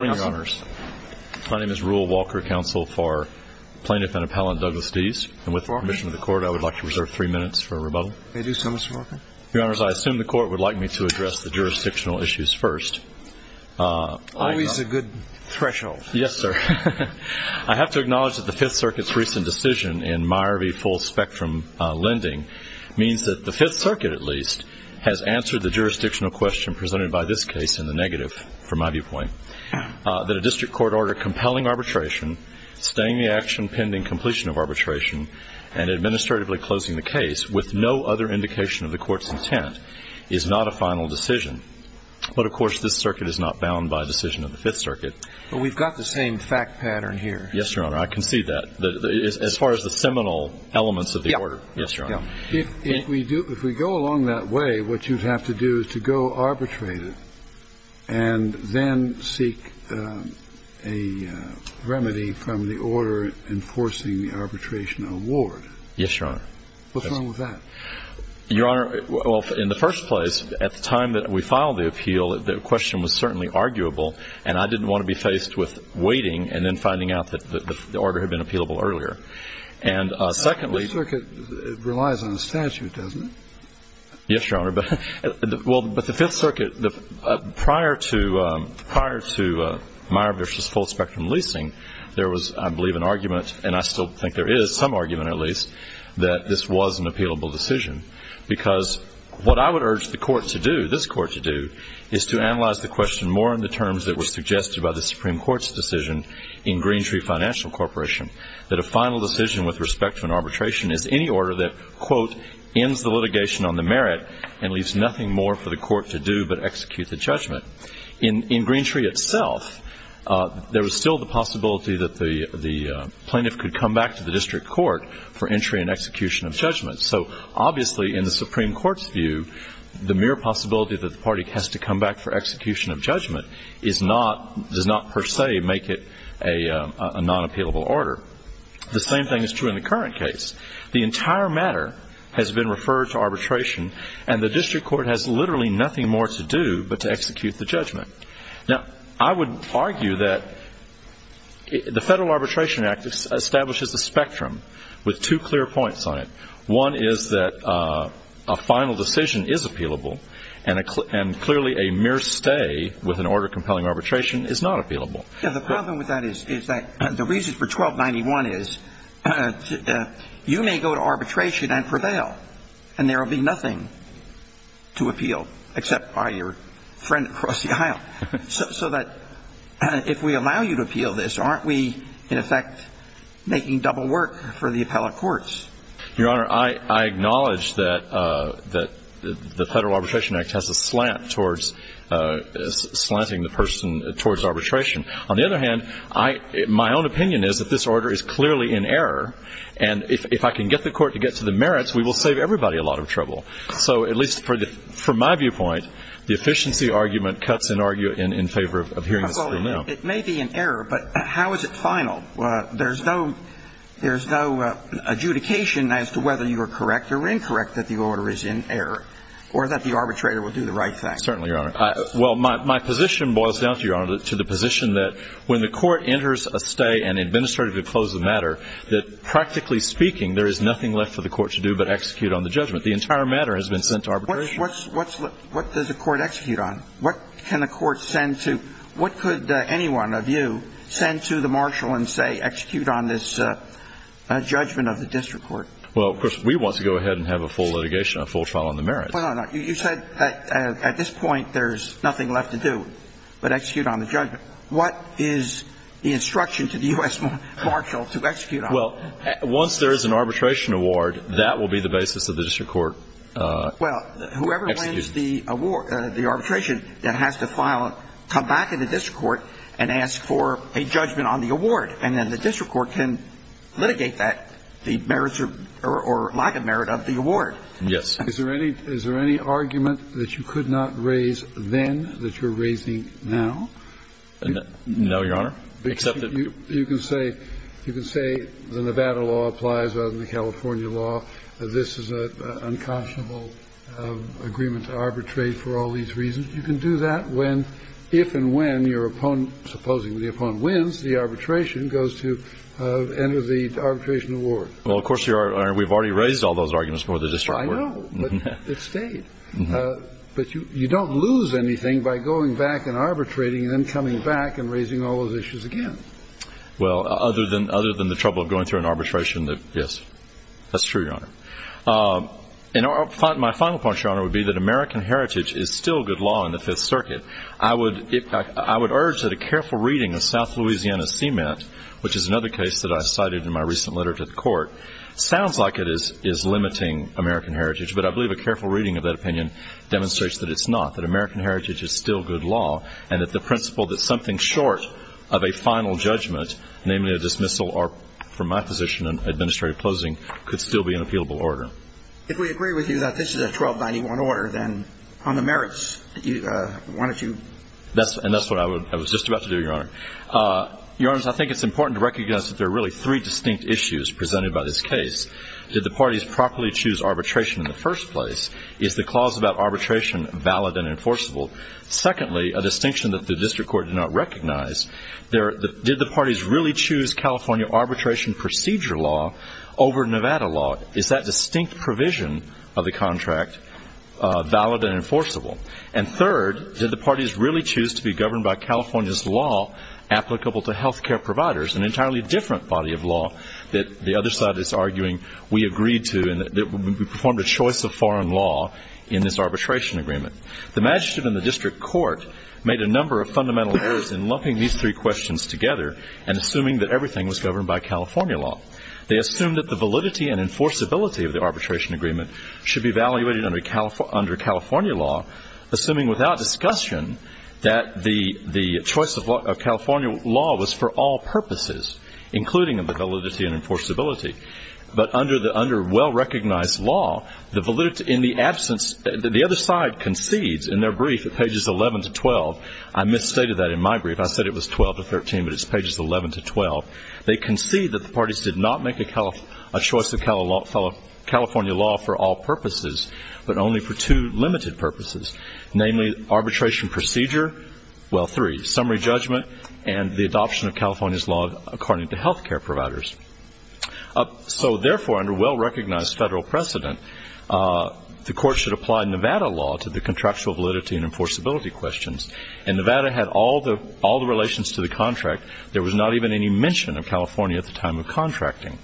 My name is Rule Walker, counsel for Plaintiff and Appellant Douglas Dees, and with the permission of the Court, I would like to reserve three minutes for a rebuttal. May I do so, Mr. Walker? Your Honors, I assume the Court would like me to address the jurisdictional issues first. Always a good threshold. Yes, sir. I have to acknowledge that the Fifth Circuit's recent decision in Meyer v. Full Spectrum Lending means that the Fifth Circuit, at least, has answered the jurisdictional question presented by this case in the negative, from my viewpoint, that a district court order compelling arbitration, staying the action pending completion of arbitration, and administratively closing the case with no other indication of the Court's intent, is not a final decision. But of course, this circuit is not bound by a decision of the Fifth Circuit. But we've got the same fact pattern here. Yes, Your Honor. I can see that. Yes, Your Honor. If we go along that way, what you'd have to do is to go arbitrate it, and then seek a remedy from the order enforcing the arbitration award. Yes, Your Honor. What's wrong with that? Your Honor, well, in the first place, at the time that we filed the appeal, the question was certainly arguable, and I didn't want to be faced with waiting and then finding out that the order had been appealable earlier. And secondly... The Fifth Circuit relies on a statute, doesn't it? Yes, Your Honor. Well, but the Fifth Circuit, prior to Meyer v. Full Spectrum leasing, there was, I believe, an argument, and I still think there is some argument, at least, that this was an appealable decision. Because what I would urge the Court to do, this Court to do, is to analyze the question more in the terms that were suggested by the Supreme Court's decision in Greentree Corporation, that a final decision with respect to an arbitration is any order that, quote, ends the litigation on the merit and leaves nothing more for the Court to do but execute the judgment. In Greentree itself, there was still the possibility that the plaintiff could come back to the district court for entry and execution of judgment. So, obviously, in the Supreme Court's view, the mere possibility that the party has to come back for execution of judgment does not, per se, make it a non-appealable order. The same thing is true in the current case. The entire matter has been referred to arbitration, and the district court has literally nothing more to do but to execute the judgment. Now, I would argue that the Federal Arbitration Act establishes a spectrum with two clear points on it. One is that a final decision is appealable, and clearly a mere stay with an order compelling arbitration is not appealable. Yeah, the problem with that is that the reason for 1291 is you may go to arbitration and prevail, and there will be nothing to appeal except by your friend across the aisle. So that if we allow you to appeal this, aren't we, in effect, making double work for the appellate courts? Your Honor, I acknowledge that the Federal Arbitration Act has a slant towards slanting the person towards arbitration. On the other hand, my own opinion is that this order is clearly in error, and if I can get the court to get to the merits, we will save everybody a lot of trouble. So, at least from my viewpoint, the efficiency argument cuts in favor of hearing the Supreme Court. It may be in error, but how is it final? There's no adjudication as to whether you are correct or incorrect that the order is in error, or that the arbitrator will do the right thing. Certainly, Your Honor. Well, my position boils down to, Your Honor, to the position that when the court enters a stay and administratively closes the matter, that practically speaking, there is nothing left for the court to do but execute on the judgment. The entire matter has been sent to arbitration. What does the court execute on? What can the court send to – what could anyone of you send to the marshal and say execute on this judgment of the district court? Well, of course, we want to go ahead and have a full litigation, a full trial on the merits. Well, no, no. You said that at this point there's nothing left to do but execute on the judgment. What is the instruction to the U.S. marshal to execute on it? Well, once there is an arbitration award, that will be the basis of the district court execution. Well, if the district court wins the award – the arbitration, then it has to file – come back in the district court and ask for a judgment on the award. And then the district court can litigate that, the merits or lack of merit of the award. Yes. Is there any – is there any argument that you could not raise then that you're raising now? No, Your Honor, except that you – You can say – you can say the Nevada law applies rather than the California law, that this is an unconscionable agreement to arbitrate for all these reasons. You can do that when – if and when your opponent – supposing the opponent wins, the arbitration goes to enter the arbitration award. Well, of course, Your Honor, we've already raised all those arguments before the district court. I know, but it stayed. But you don't lose anything by going back and arbitrating and then coming back and raising all those issues again. Well, other than – other than the trouble of going through an arbitration that – yes. That's true, Your Honor. And my final point, Your Honor, would be that American heritage is still good law in the Fifth Circuit. I would – I would urge that a careful reading of South Louisiana Cement, which is another case that I cited in my recent letter to the court, sounds like it is limiting American heritage. But I believe a careful reading of that opinion demonstrates that it's not, that American heritage is still good law, and that the principle that something short of a final judgment, namely a dismissal from my position in administrative closing, could still be an appealable order. If we agree with you that this is a 1291 order, then on the merits, why don't you – And that's what I was just about to do, Your Honor. Your Honors, I think it's important to recognize that there are really three distinct issues presented by this case. Did the parties properly choose arbitration in the first place? Is the clause about arbitration valid and enforceable? Secondly, a distinction that the district court did not recognize, did the parties really choose California arbitration procedure law over Nevada law? Is that distinct provision of the contract valid and enforceable? And third, did the parties really choose to be governed by California's law applicable to health care providers, an entirely different body of law that the other side is arguing we agreed to and that we performed a choice of foreign law in this arbitration agreement? The magistrate and the district court made a number of fundamental errors in lumping these three questions together and assuming that everything was governed by California law. They assumed that the validity and enforceability of the arbitration agreement should be evaluated under California law, assuming without discussion that the choice of California law was for all purposes, including the validity and enforceability. But under well-recognized law, the validity in the absence, the other side concedes in their brief at pages 11 to 12. I misstated that in my brief. I said it was 12 to 13, but it's pages 11 to 12. They concede that the parties did not make a choice of California law for all purposes, but only for two limited purposes, namely arbitration procedure, well, three, summary judgment and the adoption of California's law according to health care providers. So, therefore, under well-recognized federal precedent, the court should apply Nevada law to the contractual validity and enforceability questions. And Nevada had all the relations to the contract. There was not even any mention of California at the time of contracting.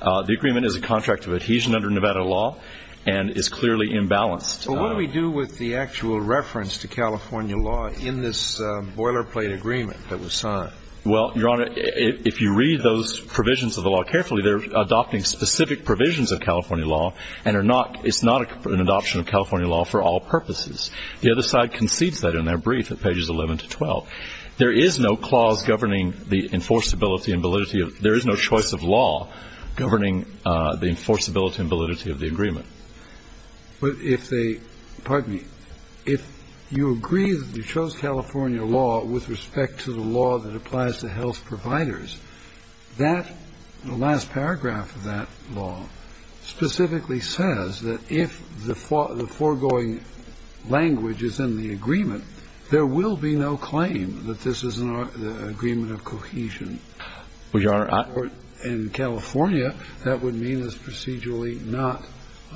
The agreement is a contract of adhesion under Nevada law and is clearly imbalanced. But what do we do with the actual reference to California law in this boilerplate agreement that was signed? Well, Your Honor, if you read those provisions of the law carefully, they're adopting specific provisions of California law and are not – it's not an adoption of California law for all purposes. The other side concedes that in their brief at pages 11 to 12. There is no clause governing the enforceability and validity of – there is no choice of law governing the enforceability and validity of the agreement. But if they – pardon me. If you agree that you chose California law with respect to the law that applies to health providers, that – the last paragraph of that law specifically says that if the foregoing language is in the agreement, there will be no claim that this is an agreement of cohesion. Well, Your Honor, I – In California, that would mean it's procedurally not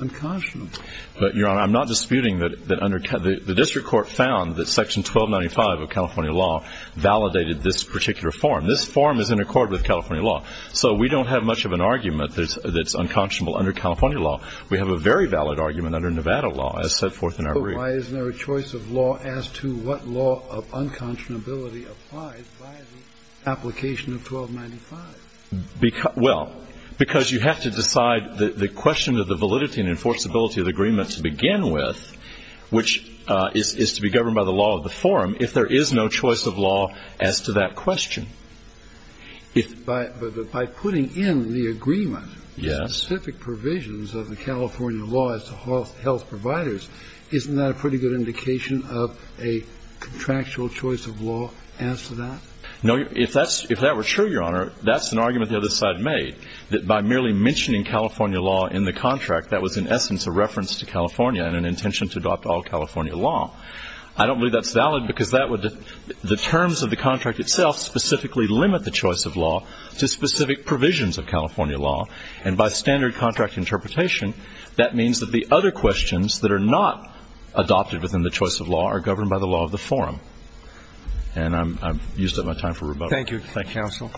unconscionable. But, Your Honor, I'm not disputing that under – the district court found that section 1295 of California law validated this particular form. This form is in accord with California law. So we don't have much of an argument that's unconscionable under California law. We have a very valid argument under Nevada law as set forth in our brief. But why isn't there a choice of law as to what law of unconscionability applies via the application of 1295? Because – well, because you have to decide the question of the validity and enforceability of the agreement to begin with, which is to be governed by the law of the forum, if there is no choice of law as to that question. If – But by putting in the agreement specific provisions of the California law as to health providers, isn't that a pretty good indication of a contractual choice of law as to that? No. If that's – if that were true, Your Honor, that's an argument the other side made, that by merely mentioning California law in the contract, that was in essence a reference to California and an intention to adopt all California law. I don't believe that's valid because that would – the terms of the contract itself specifically limit the choice of law to specific provisions of California law. And by standard contract interpretation, that means that the other questions that are not adopted within the choice of law are governed by the law of the forum. And I've used up my time for rebuttal. Thank you. Thank you, counsel.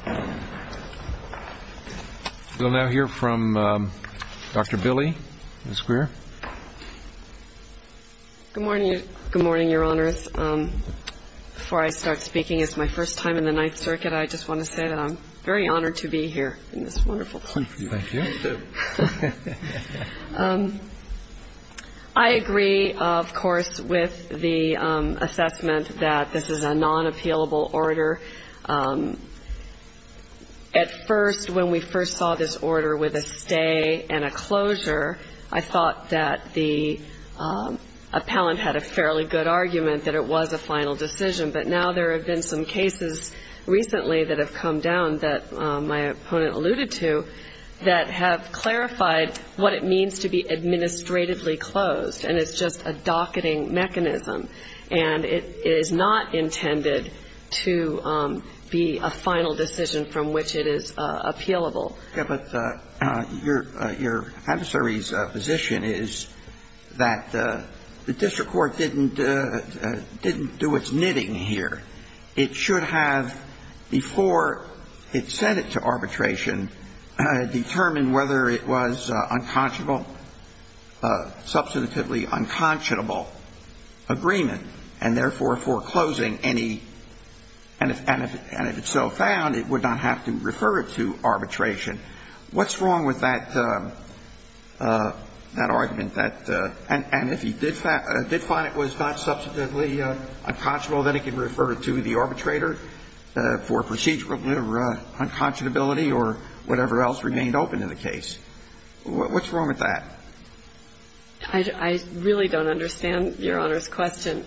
We'll now hear from Dr. Billy, Ms. Greer. Good morning. Good morning, Your Honors. Before I start speaking, it's my first time in the Ninth Circuit. I just want to say that I'm very honored to be here in this wonderful country. Thank you. Me, too. I agree, of course, with the assessment that this is a non-appealable order. At first, when we first saw this order with a stay and a closure, I thought that the appellant had a fairly good argument that it was a final decision. But now there have been some cases recently that have come down that my opponent alluded to that have clarified what it means to be administratively closed. And it's just a docketing mechanism. And it is not intended to be a final decision from which it is appealable. Yes, but your adversary's position is that the district court didn't do its knitting here. It should have, before it sent it to arbitration, determined whether it was unconscionable ‑‑ substantively unconscionable agreement and, therefore, foreclosing any ‑‑ and if it so found, it would not have to refer it to arbitration. What's wrong with that argument that ‑‑ and if it did find it was not substantively unconscionable, then it could refer it to the arbitrator for procedurally unconscionability or whatever else remained open in the case? What's wrong with that? I really don't understand Your Honor's question.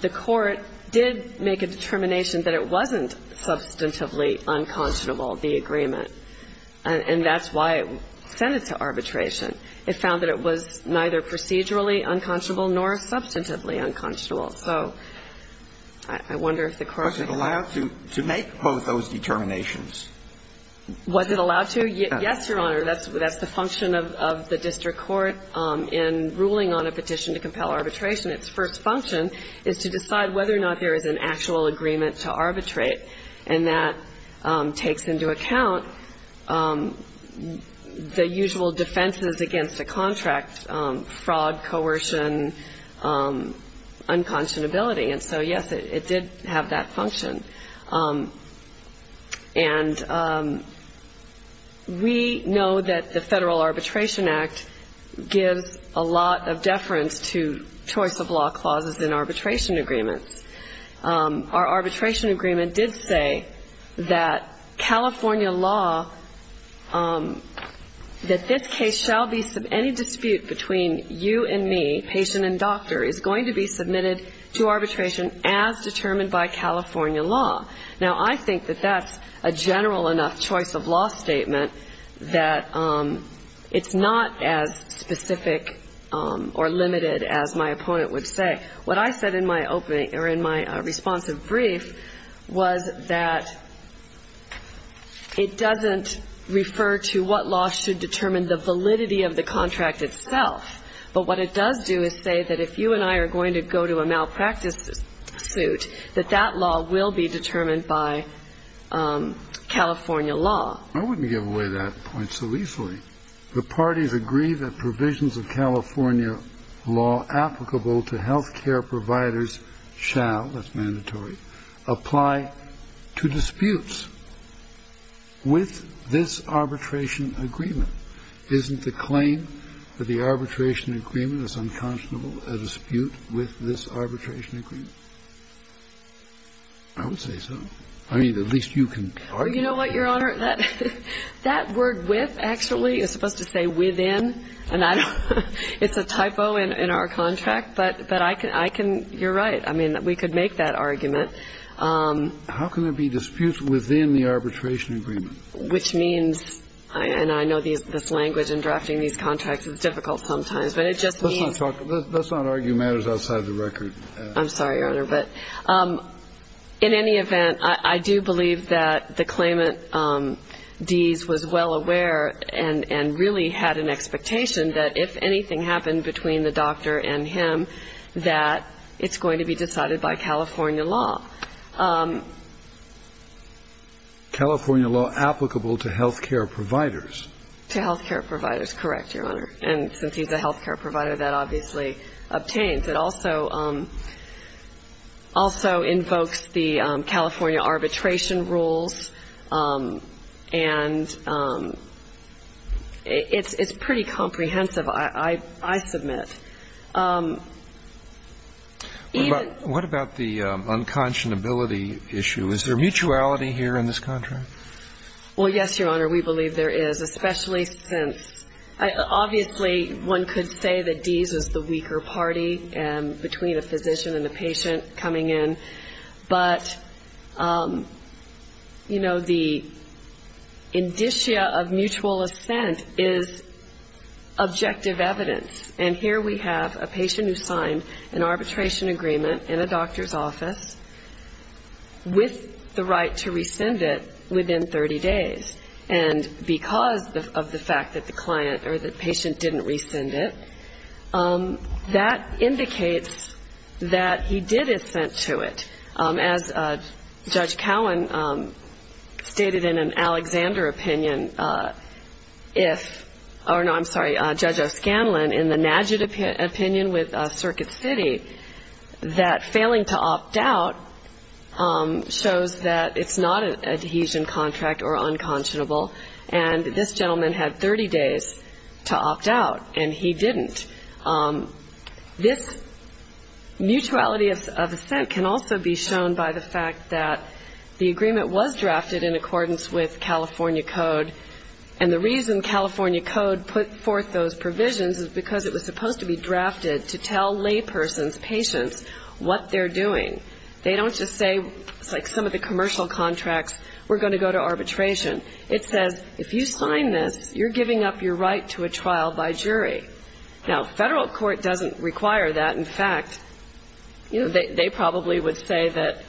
The court did make a determination that it wasn't substantively unconscionable the agreement. And that's why it sent it to arbitration. It found that it was neither procedurally unconscionable nor substantively unconscionable. So I wonder if the court ‑‑ Was it allowed to make both those determinations? Was it allowed to? Yes, Your Honor. That's the function of the district court in ruling on a petition to compel arbitration. Its first function is to decide whether or not there is an actual agreement to arbitrate. And that takes into account the usual defenses against a contract, fraud, coercion, unconscionability. And so, yes, it did have that function. And we know that the Federal Arbitration Act gives a lot of deference to choice of law clauses in arbitration agreements. Our arbitration agreement did say that California law, that this case shall be any dispute between you and me, patient and doctor, is going to be submitted to arbitration as determined by California law. Now, I think that that's a general enough choice of law statement that it's not as specific or limited as my opponent would say. What I said in my opening or in my responsive brief was that it doesn't refer to what law should determine the validity of the contract itself. But what it does do is say that if you and I are going to go to a malpractice suit, that that law will be determined by California law. I wouldn't give away that point so easily. The parties agree that provisions of California law applicable to healthcare providers shall, that's mandatory, apply to disputes with this arbitration agreement. Isn't the claim that the arbitration agreement is unconscionable a dispute with this arbitration agreement? I would say so. I mean, at least you can argue that. Well, you know what, Your Honor? That word with, actually, is supposed to say within. And I don't, it's a typo in our contract. But I can, you're right. I mean, we could make that argument. How can there be disputes within the arbitration agreement? Which means, and I know this language in drafting these contracts is difficult sometimes, but it just means. Let's not argue matters outside of the record. I'm sorry, Your Honor. But in any event, I do believe that the claimant, Dees, was well aware and really had an expectation that if anything happened between the doctor and him, that it's going to be decided by California law. California law applicable to healthcare providers? To healthcare providers, correct, Your Honor. And since he's a healthcare provider, that obviously obtains. It also, also invokes the California arbitration rules. And it's pretty comprehensive, I submit. What about the unconscionability issue? Is there mutuality here in this contract? Well, yes, Your Honor, we believe there is, especially since, obviously, one could say that Dees is the weaker party between a physician and a patient coming in. But, you know, the indicia of mutual assent is objective evidence. And here we have a patient who signed an arbitration agreement in a doctor's office with the right to rescind it within 30 days. And because of the fact that the client or the patient didn't rescind it, that indicates that he did assent to it. As Judge Cowen stated in an Alexander opinion, if, oh, no, I'm sorry, Judge O'Scanlon, in the Najat opinion with Circuit City, that failing to opt out shows that it's not a Dehesion contract or unconscionable. And this gentleman had 30 days to opt out, and he didn't. This mutuality of assent can also be shown by the fact that the agreement was drafted in accordance with California code. And the reason California code put forth those provisions is because it was supposed to be drafted to tell laypersons, patients, what they're doing. They don't just say, like some of the commercial contracts, we're going to go to arbitration. It says, if you sign this, you're giving up your right to a trial by jury. Now, federal court doesn't require that. In fact, they probably would say that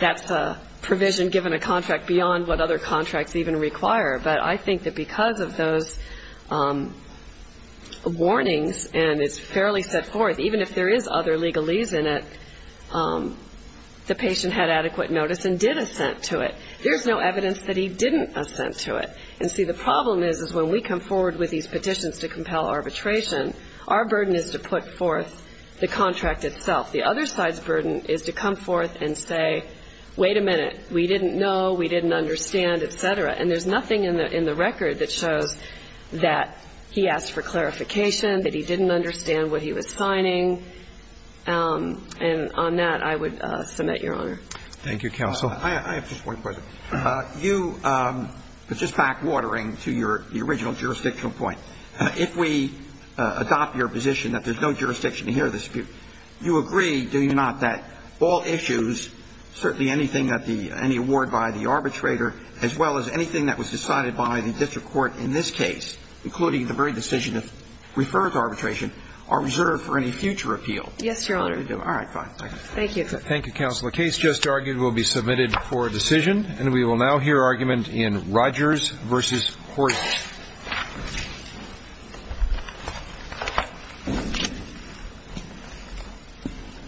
that's a provision given a contract beyond what other contracts even require. But I think that because of those warnings, and it's fairly set forth, even if there is other legalese in it, the patient had adequate notice and did assent to it. There's no evidence that he didn't assent to it. And see, the problem is, is when we come forward with these petitions to compel arbitration, our burden is to put forth the contract itself. The other side's burden is to come forth and say, wait a minute, we didn't know, we And I think there's a section in the record that shows that he asked for clarification, that he didn't understand what he was signing. And on that, I would submit, Your Honor. Thank you, counsel. I have just one question. You, just backwatering to your original jurisdictional point, if we adopt your position that there's no jurisdiction here, you agree, do you not, that all issues, certainly anything that the any award by the arbitrator, as well as anything that was decided by the district court in this case, including the very decision to refer to arbitration, are reserved for any future appeal? Yes, Your Honor. All right, fine. Thank you. Thank you, Counsel. The case just argued will be submitted for decision. And we will now hear argument in Rogers v. Horton. Thank you.